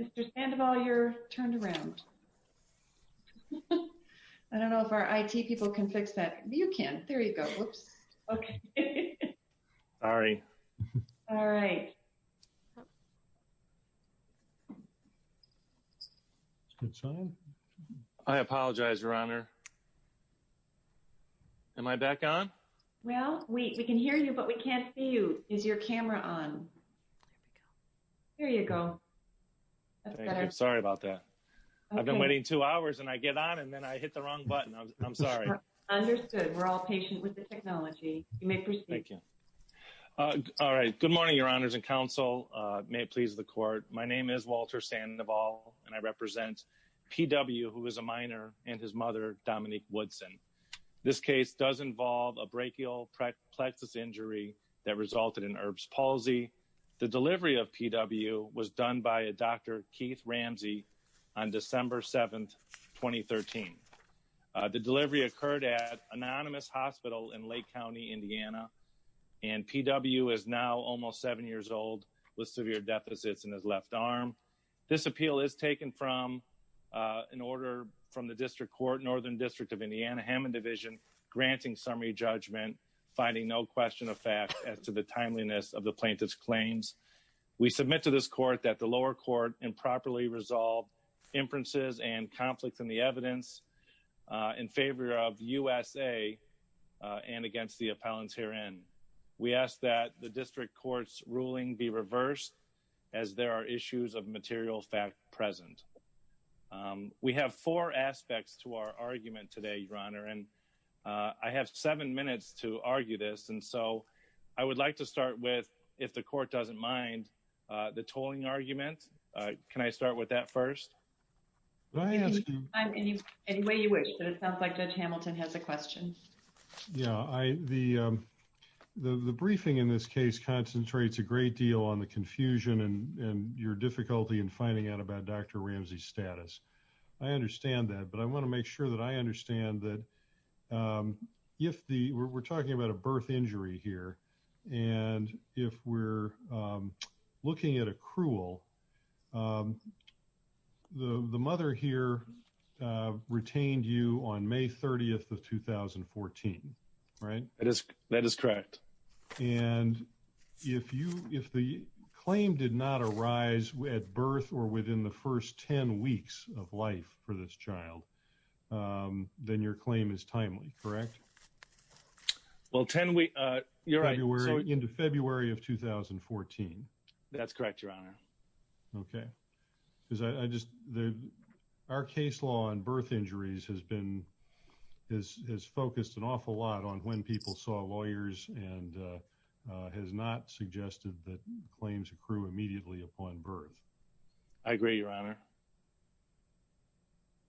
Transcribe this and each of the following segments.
Mr. Sandoval, you're turned around. I don't know if our I.T. people can fix that. You can hear me. I apologize, Your Honor. Am I back on? Well, we can hear you, but we can't see you. Is your camera on? There you go. Sorry about that. I've been waiting two hours and I get on and then I hit the wrong button. I'm sorry. Understood. We're all patient with the technology. You may proceed. Thank you. All right. Good morning, Your Honors and Counsel. May it please the Court. My name is Walter Sandoval and I represent P.W., who is a minor, and his mother, Dominique Woodson. This case does involve a brachial plexus injury that resulted in Erb's palsy. The delivery of P.W. was done by a Dr. Keith Ramsey on December 7, 2013. The delivery occurred at Anonymous Hospital in Lake County, Indiana, and P.W. is now almost 7 years old with severe deficits in his left arm. This appeal is taken from an order from the District Court, Northern District of Indiana, Hammond Division, granting summary judgment, finding no question of fact as to the timeliness of the plaintiff's claims. We submit to this Court that the lower court improperly resolved inferences and conflicts in the evidence in favor of USA and against the appellants herein. We ask that the District Court's ruling be reversed as there are issues of material fact present. We have four aspects to our argument today, Your Honor, and I have seven minutes to argue this, and so I would like to start with, if the Court doesn't mind, the tolling argument. Can I start with that first? I ask you... Any way you wish, but it sounds like Judge Hamilton has a question. Yeah, the briefing in this case concentrates a great deal on the confusion and your difficulty in finding out about Dr. Ramsey's status. I understand that, but I want to make sure that I understand that if the... We're talking about a birth injury here, and if we're looking at a cruel the mother here retained you on May 30th of 2014, right? That is correct. And if the claim did not arise at birth or within the first 10 weeks of life for this child, then your claim is timely, correct? Well, 10 weeks... You're right. February, into February of 2014. That's correct, Your Honor. Okay. Because I just... Our case law on birth injuries has focused an awful lot on when people saw lawyers and has not suggested that claims accrue immediately upon birth. I agree, Your Honor.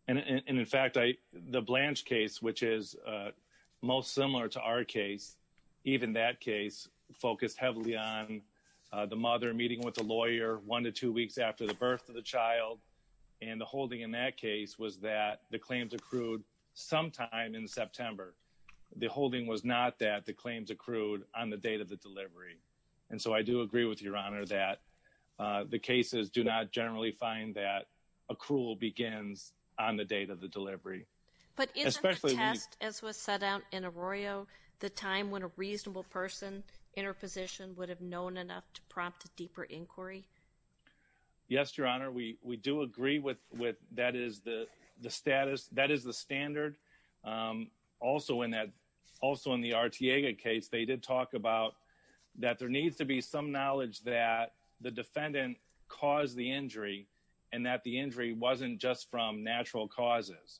And in fact, the Blanche case, which is most similar to our case, even that case focused heavily on the mother meeting with the lawyer one to two weeks after the birth of the child. And the holding in that case was that the claims accrued sometime in September. The holding was not that the claims accrued on the date of the delivery. And so I do agree with Your Honor that the cases do not generally find that accrual begins on the date of the delivery. But isn't the test, as was set out in Arroyo, the time when a reasonable person in her position would have known enough to prompt a deeper inquiry? Yes, Your Honor. We do agree with that is the status, that is the standard. Also in the Arteaga case, they did talk about that there needs to be some knowledge that the defendant caused the injury and that the injury wasn't just from natural causes.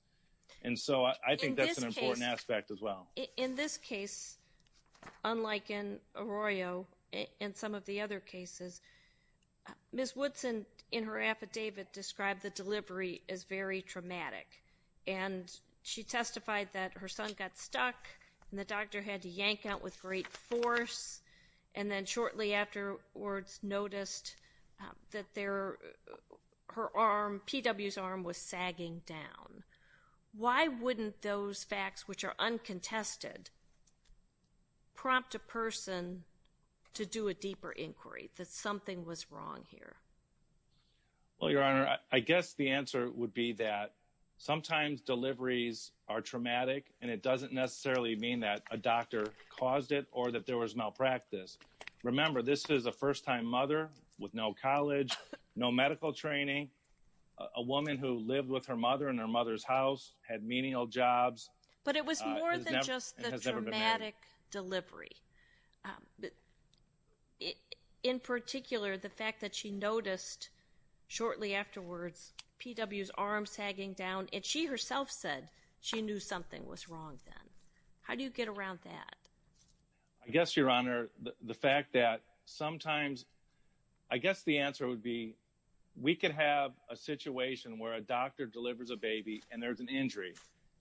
And so I think that's an important aspect as well. In this case, unlike in Arroyo and some of the other cases, Ms. Woodson in her affidavit described the delivery as very traumatic. And she testified that her son got stuck and the doctor had to yank out with great force. And then shortly afterwards noticed that her arm, P.W.'s arm, was sagging down. Why wouldn't those facts, which are uncontested, prompt a person to do a deeper inquiry, that something was wrong here? Well, Your Honor, I guess the answer would be that sometimes deliveries are traumatic, and it doesn't necessarily mean that a doctor caused it or that there was malpractice. Remember, this is a first-time mother with no college, no medical training. A woman who lived with her mother in her mother's house, had menial jobs. But it was more than just the traumatic delivery. In particular, the fact that she noticed shortly afterwards P.W.'s arm sagging down, and she herself said she knew something was wrong then. How do you get around that? I guess, Your Honor, the fact that sometimes, I guess the answer would be, we could have a situation where a doctor delivers a baby and there's an injury.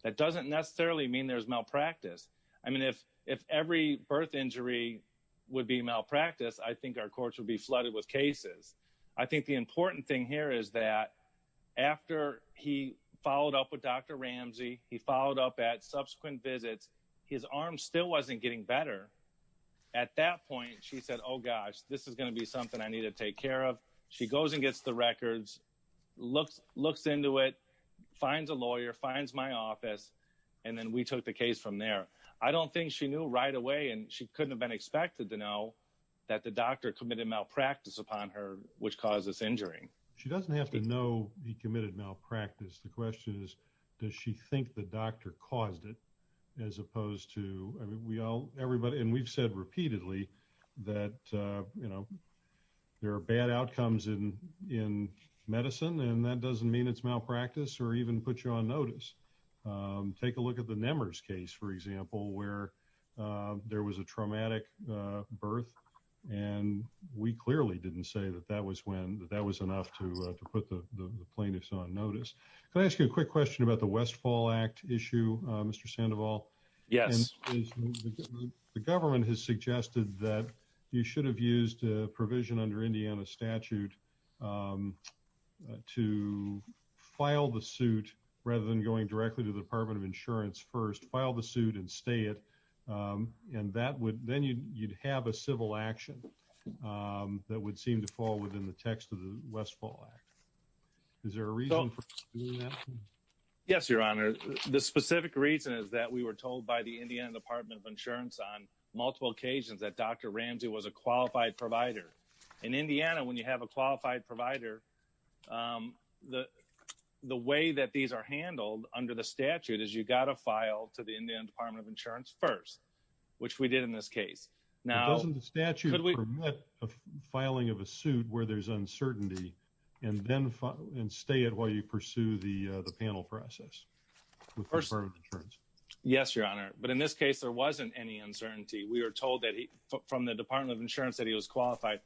That doesn't necessarily mean there's malpractice. I mean, if every birth injury would be malpractice, I think our courts would be flooded with cases. I think the important thing here is that after he followed up with Dr. Ramsey, he followed up at subsequent visits, his arm still wasn't getting better. At that point, she said, oh gosh, this is going to be something I need to take care of. She goes and gets the records, looks into it, finds a lawyer, finds my office, and then we took the case from there. I don't think she knew right away, and she couldn't have been expected to know that the doctor committed malpractice upon her, which caused this injury. She doesn't have to know he committed malpractice. We've said repeatedly that there are bad outcomes in medicine, and that doesn't mean it's malpractice or even put you on notice. Take a look at the Nehmer's case, for example, where there was a traumatic birth, and we clearly didn't say that that was enough to put the plaintiffs on notice. Can I ask you a quick question about the Westfall Act issue, Mr. Sandoval? Yes. The government has suggested that you should have used a provision under Indiana statute to file the suit rather than going directly to the Department of Insurance first, file the suit and stay it, and then you'd have a civil action that would seem to fall within the Indiana Department of Insurance on multiple occasions that Dr. Ramsey was a qualified provider. In Indiana, when you have a qualified provider, the way that these are handled under the statute is you've got to file to the Indiana Department of Insurance first, which we did in this case. Doesn't the statute permit the filing of a suit where there's uncertainty and then stay you pursue the panel process with the Department of Insurance? Yes, Your Honor, but in this case, there wasn't any uncertainty. We were told that from the Department of Insurance that he was qualified.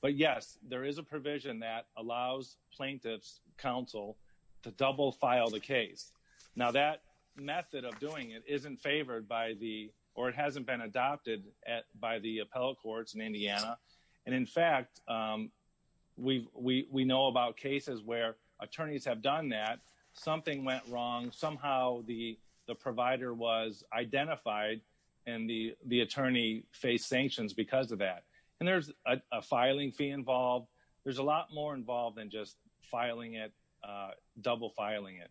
But yes, there is a provision that allows plaintiff's counsel to double file the case. Now, that method of doing it isn't favored by the or it hasn't been adopted by the appellate courts in Indiana. And in fact, we know about cases where attorneys have done that. Something went wrong. Somehow the provider was identified and the attorney faced sanctions because of that. And there's a filing fee involved. There's a lot more involved than just filing it, double filing it.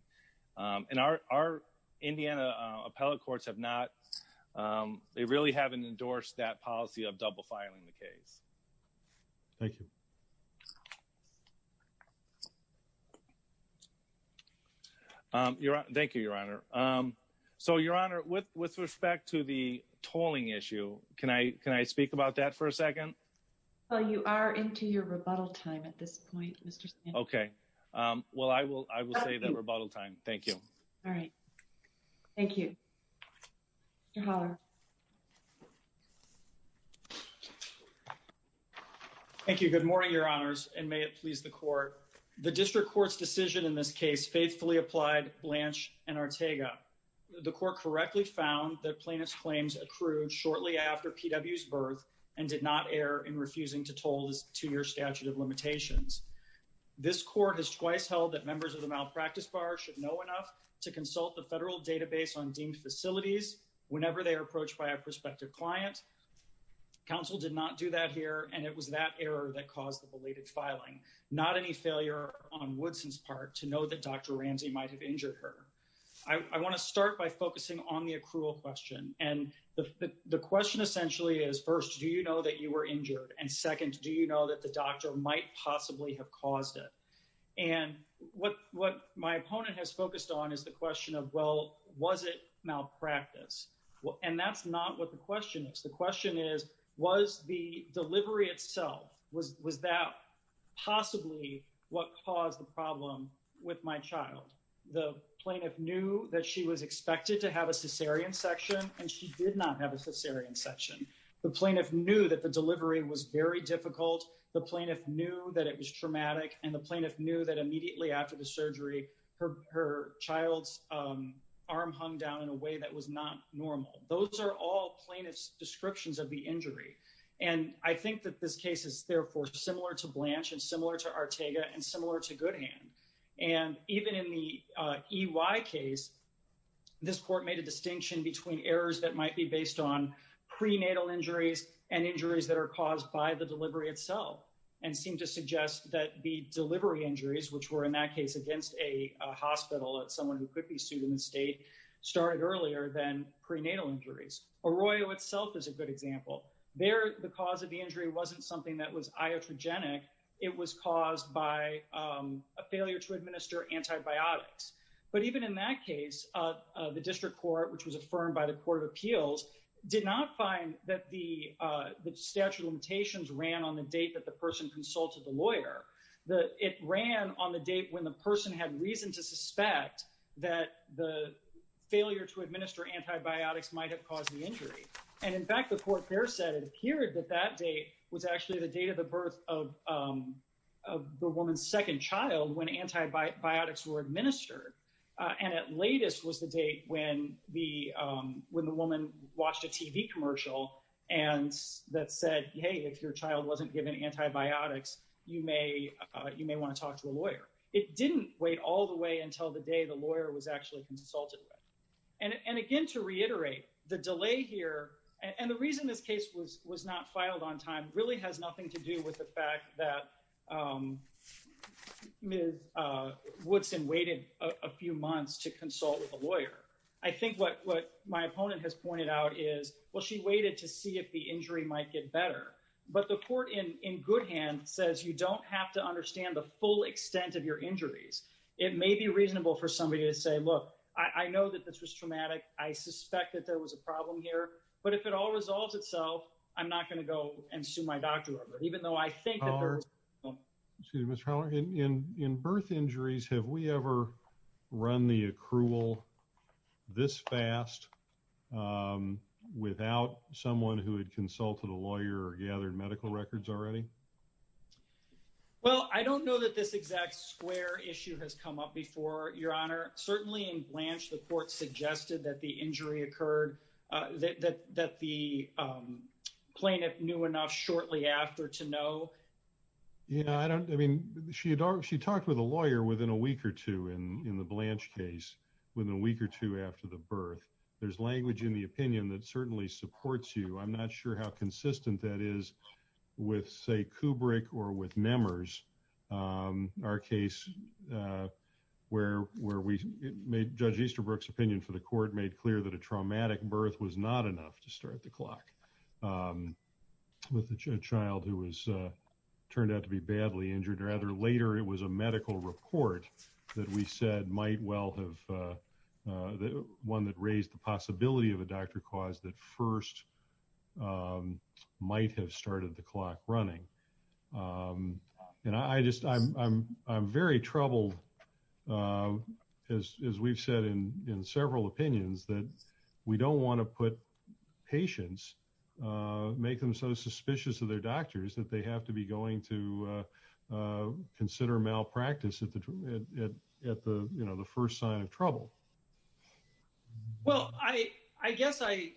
And our Indiana appellate courts have not, they really haven't endorsed that policy of double filing the case. Thank you. Thank you, Your Honor. So, Your Honor, with respect to the tolling issue, can I speak about that for a second? Well, you are into your rebuttal time at this point, Mr. Stanton. Okay. Well, I will say that rebuttal time. Thank you. All right. Thank you. Thank you. Good morning, Your Honors, and may it please the court. The district court's decision in this case faithfully applied Blanche and Ortega. The court correctly found that plaintiff's claims accrued shortly after P.W.'s birth and did not err in refusing to toll his two-year statute of limitations. This court has twice held that members of the malpractice bar should know enough to consult the federal database on deemed facilities whenever they are approached by a client. Counsel did not do that here, and it was that error that caused the belated filing. Not any failure on Woodson's part to know that Dr. Ramsey might have injured her. I want to start by focusing on the accrual question. And the question essentially is, first, do you know that you were injured? And second, do you know that the doctor might possibly have caused it? And what my opponent has focused on is the question of, well, was it malpractice? And that's not what the question is. The question is, was the delivery itself, was that possibly what caused the problem with my child? The plaintiff knew that she was expected to have a cesarean section, and she did not have a cesarean section. The plaintiff knew that the delivery was very difficult. The plaintiff knew that it was traumatic. And the plaintiff knew that immediately after the surgery, her child's arm hung down in a way that was not normal. Those are all plaintiff's descriptions of the injury. And I think that this case is therefore similar to Blanche and similar to Ortega and similar to Goodhand. And even in the EY case, this court made a distinction between errors that might be based on prenatal injuries and delivery itself and seemed to suggest that the delivery injuries, which were in that case against a hospital at someone who could be sued in the state, started earlier than prenatal injuries. Arroyo itself is a good example. There, the cause of the injury wasn't something that was iatrogenic. It was caused by a failure to administer antibiotics. But even in that case, the district court, which was affirmed by the Court of Appeals, did not find that the statute of limitations ran on the date that the person consulted the lawyer. It ran on the date when the person had reason to suspect that the failure to administer antibiotics might have caused the injury. And in fact, the court there said it appeared that that date was actually the date of the birth of the woman's second child when antibiotics were administered. And at latest was the date when the woman watched a TV commercial that said, hey, if your child wasn't given antibiotics, you may want to talk to a lawyer. It didn't wait all the way until the day the lawyer was actually consulted. And again, to reiterate, the delay here and the reason this case was not filed on time really has nothing to do with the fact that Ms. Woodson waited a few months to consult with a lawyer. I think what my opponent has pointed out is, well, she waited to see if the injury might get better. But the court in good hand says, you don't have to understand the full extent of your injuries. It may be reasonable for somebody to say, look, I know that this was traumatic. I suspect that there was a problem here. But if it all resolves itself, I'm not going to go and sue my doctor over it, even though I think that there was... Excuse me, Mr. Howler. In birth injuries, have we ever run the accrual this fast without someone who had consulted a lawyer or gathered medical records already? Well, I don't know that this exact square issue has come up before, Your Honor. Certainly in Blanche, the court suggested that the injury occurred, that the plaintiff knew enough shortly after to know. Yeah, I mean, she talked with a lawyer within a week or two in the Blanche case, within a week or two after the birth. There's language in the opinion that certainly supports you. I'm not sure how consistent that is with, say, Kubrick or with Nemmers, our case where Judge Easterbrook's opinion for the court made clear that a traumatic birth was not enough to start the clock with a child who turned out to be badly injured. Rather, later, it was a medical report that we said might well have... One that raised the possibility of a doctor cause that first might have started the clock running. And I'm very troubled, as we've said in several opinions, that we don't want to put patients, make them so suspicious of their doctors that they have to be going to consider malpractice at the first sign of trouble. Well, I guess I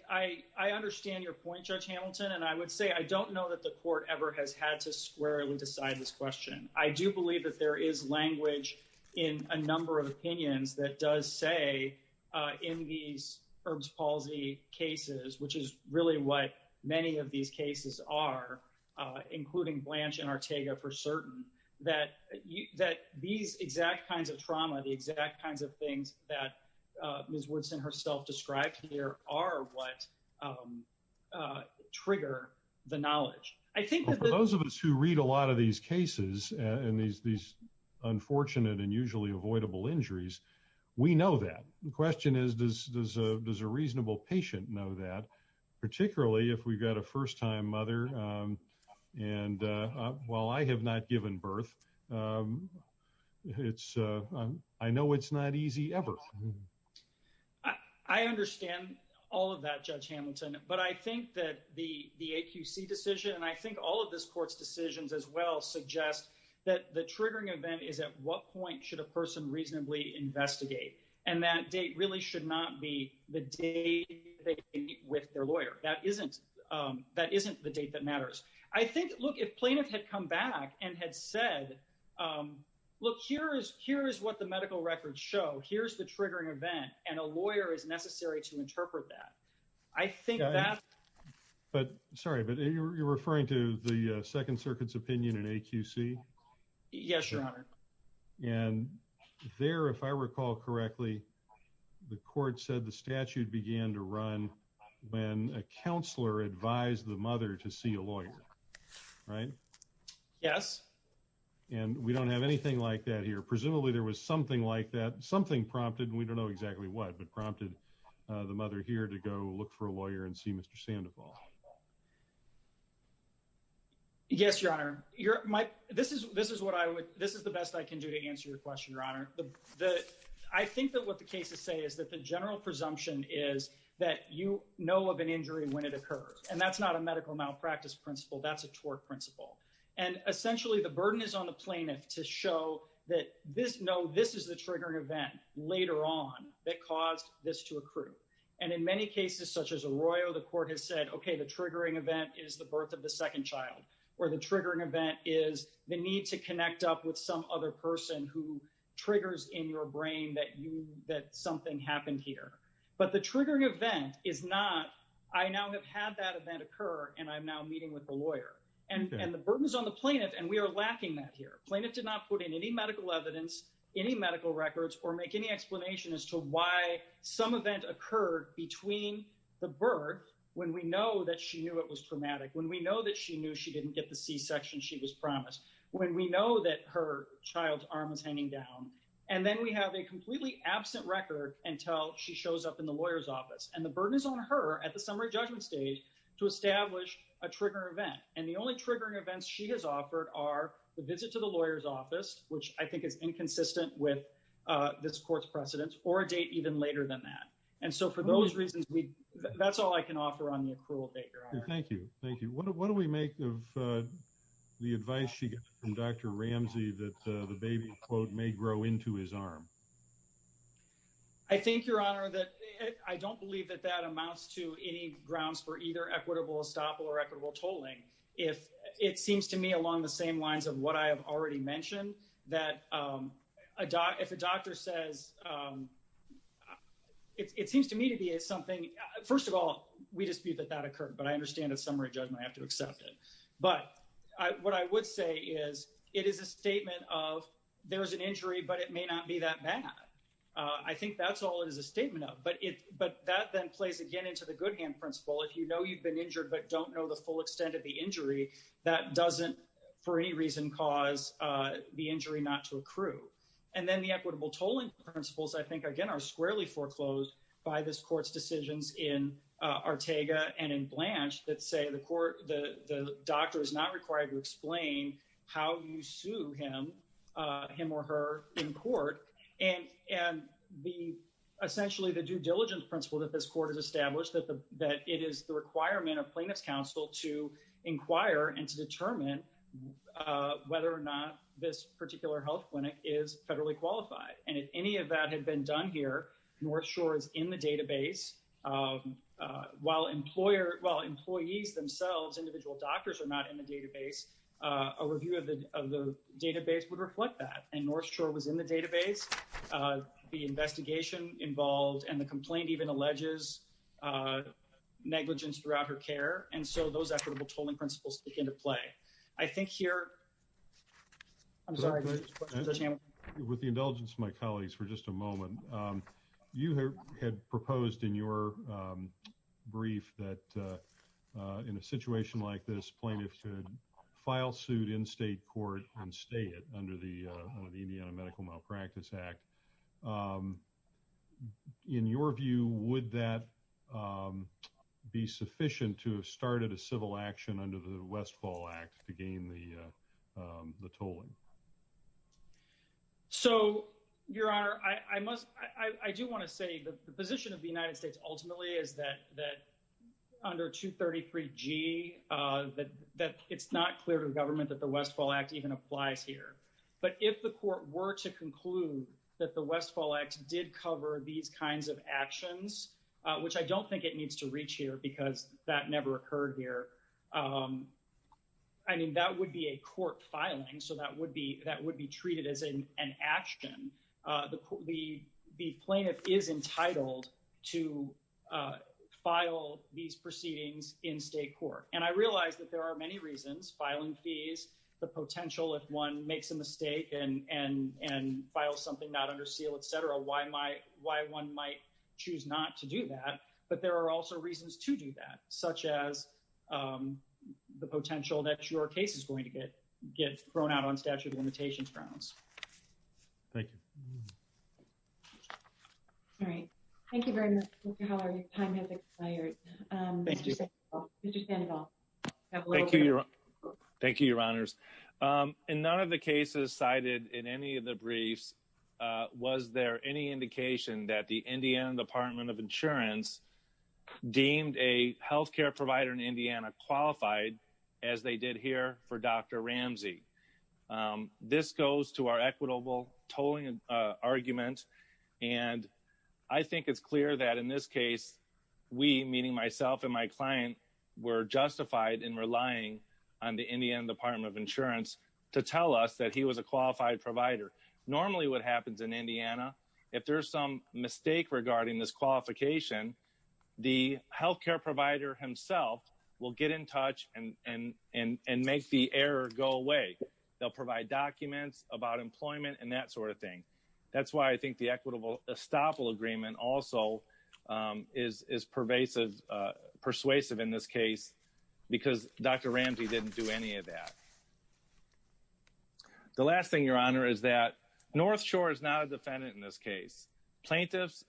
understand your point, Judge Hamilton, and I would say I don't know that the court ever has had to squarely decide this question. I do believe that there is language in a number of opinions that does say in these Herb's palsy cases, which is really what many of these cases are, including Blanche and Ortega for certain, that these exact kinds of trauma, the exact kinds of things that Ms. Woodson herself described here are what trigger the knowledge. I think that- For those of us who read a lot of these cases and these unfortunate and usually avoidable injuries, we know that. The question is, does a reasonable patient know that, particularly if we've got a first-time mother? And while I have not given birth, it's- I know it's not easy ever. I understand all of that, Judge Hamilton, but I think that the AQC decision, and I think all of this court's decisions as well, suggest that the triggering event is at what point should a person reasonably investigate, and that date really should not be the date they meet with their lawyer. That isn't the date that matters. I think, look, plaintiff had come back and had said, look, here is what the medical records show. Here's the triggering event, and a lawyer is necessary to interpret that. I think that- Sorry, but you're referring to the Second Circuit's opinion in AQC? Yes, Your Honor. And there, if I recall correctly, the court said the statute began to run when a counselor advised the mother to see a lawyer, right? Yes. And we don't have anything like that here. Presumably there was something like that, something prompted, and we don't know exactly what, but prompted the mother here to go look for a lawyer and see Mr. Sandoval. Yes, Your Honor. This is the best I can do to answer your question, Your Honor. I think that what the cases say is that the general presumption is that you know of an practice principle. That's a tort principle. And essentially, the burden is on the plaintiff to show that this, no, this is the triggering event later on that caused this to accrue. And in many cases, such as Arroyo, the court has said, okay, the triggering event is the birth of the second child, or the triggering event is the need to connect up with some other person who triggers in your brain that you, that something happened here. But the triggering event is not, I now have had that event occur, and I'm now meeting with the lawyer. And the burden is on the plaintiff, and we are lacking that here. Plaintiff did not put in any medical evidence, any medical records, or make any explanation as to why some event occurred between the birth, when we know that she knew it was traumatic, when we know that she knew she didn't get the C-section she was promised, when we know that her child's arm was hanging down, and then we have a completely absent record until she shows up in the lawyer's office. And the burden is on her at the summary judgment stage to establish a triggering event. And the only triggering events she has offered are the visit to the lawyer's office, which I think is inconsistent with this court's precedence, or a date even later than that. And so for those reasons, that's all I can offer on the accrual date, Your Honor. Thank you. Thank you. What do we make of the advice she gets from Dr. Ramsey that the baby, quote, may grow into his arm? I think, Your Honor, that I don't believe that that amounts to any grounds for either equitable estoppel or equitable tolling. If it seems to me along the same lines of what I have already mentioned, that if a doctor says, it seems to me to be something, first of all, we dispute that that occurred, but I understand a summary judgment, I have to accept it. But what I would say is, it is a statement of, there is an injury, but it may not be that bad. I think that's all it is a statement of. But that then plays again into the Goodhand Principle. If you know you've been injured but don't know the full extent of the injury, that doesn't, for any reason, cause the injury not to accrue. And then the equitable tolling principles, I think, again, are squarely foreclosed by this court's decisions in Ortega and in Blanche that say the doctor is not required to explain how you sue him or her in court. And essentially the due diligence principle that this court has established, that it is the requirement of plaintiff's counsel to inquire and to determine whether or not this particular health clinic is federally qualified. And if any of that had been done here, North Shore is in the database. While employees themselves, individual doctors, are not in the database, a review of the database would reflect that. And North Shore was in the database, the investigation involved, and the complaint even alleges negligence throughout her care. And so those equitable tolling principles stick into play. I think here, I'm sorry, Judge Hamilton. With the indulgence of my colleagues for just a moment, you had proposed in your brief that in a situation like this, plaintiffs could file suit in state court and stay it under the Indiana Medical Malpractice Act. In your view, would that be sufficient to have started a civil action under the Westfall Act to gain the tolling? So, Your Honor, I do want to say the position of the United States ultimately is that under 233G, that it's not clear to the government that the Westfall Act even applies here. But if the court were to conclude that the Westfall Act did cover these kinds of actions, which I don't think it needs to reach here because that never occurred here, I mean, that would be a court filing. So that would be treated as an action. The plaintiff is entitled to file these proceedings in state court. And I realize that there are many reasons, filing fees, the potential if one makes a mistake and files something not under seal, et cetera, why one might choose not to do that. But there are also reasons to do that, such as the potential that your case is going to get thrown out on statute of limitations grounds. Thank you. All right. Thank you very much, Mr. Haller. Your time has expired. Thank you, Your Honors. In none of the cases cited in any of the briefs, was there any indication that the Indiana Department of Insurance deemed a health care provider in Indiana qualified as they did here for Dr. Ramsey? This goes to our equitable tolling argument. And I think it's clear that in this case, we, meaning myself and my client, were justified in relying on the Indiana Department of Insurance to tell us that he was a qualified provider. Normally what happens in Indiana, if there's some mistake regarding this qualification, the health care provider himself will get in touch and make the error go away. They'll provide documents about employment and that sort of thing. That's why I think the equitable estoppel agreement also is pervasive, persuasive in this case, because Dr. Ramsey didn't do any of that. The last thing, Your Honor, is that North Shore is not a defendant in this case. Plaintiffs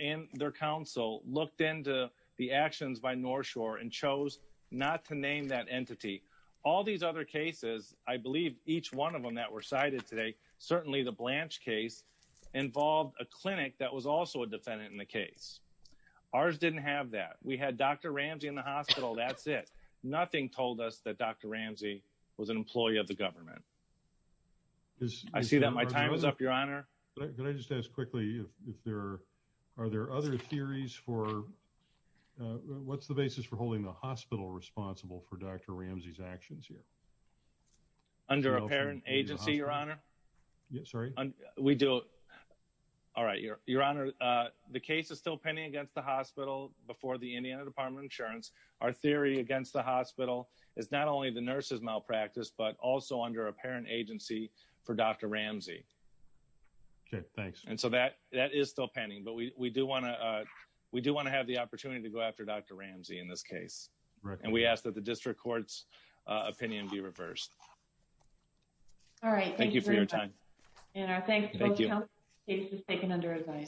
and their counsel looked into the actions by North Shore and chose not to name that entity. All these other cases, I believe each one of them that were cited today, certainly the Blanche case, involved a clinic that was also a defendant in the case. Ours didn't have that. We had Dr. Ramsey in the hospital. That's it. Nothing told us that Dr. Ramsey was an employee of the government. I see that my time is up, Your Honor. Can I just ask quickly, are there other theories for, what's the basis for holding the hospital responsible for Dr. Ramsey's actions here? Under a parent agency, Your Honor. Yes, sorry. All right, Your Honor, the case is still pending against the hospital before the Indiana Department of Insurance. Our theory against the hospital is not only the nurse's malpractice, but also under a parent agency for Dr. Ramsey. Okay, thanks. And so that is still pending, but we do want to have the opportunity to go after Dr. Ramsey in this case. And we ask that the district court's opinion be reversed. All right, thank you for your time. And our thanks to both counsels. The case was taken under advice.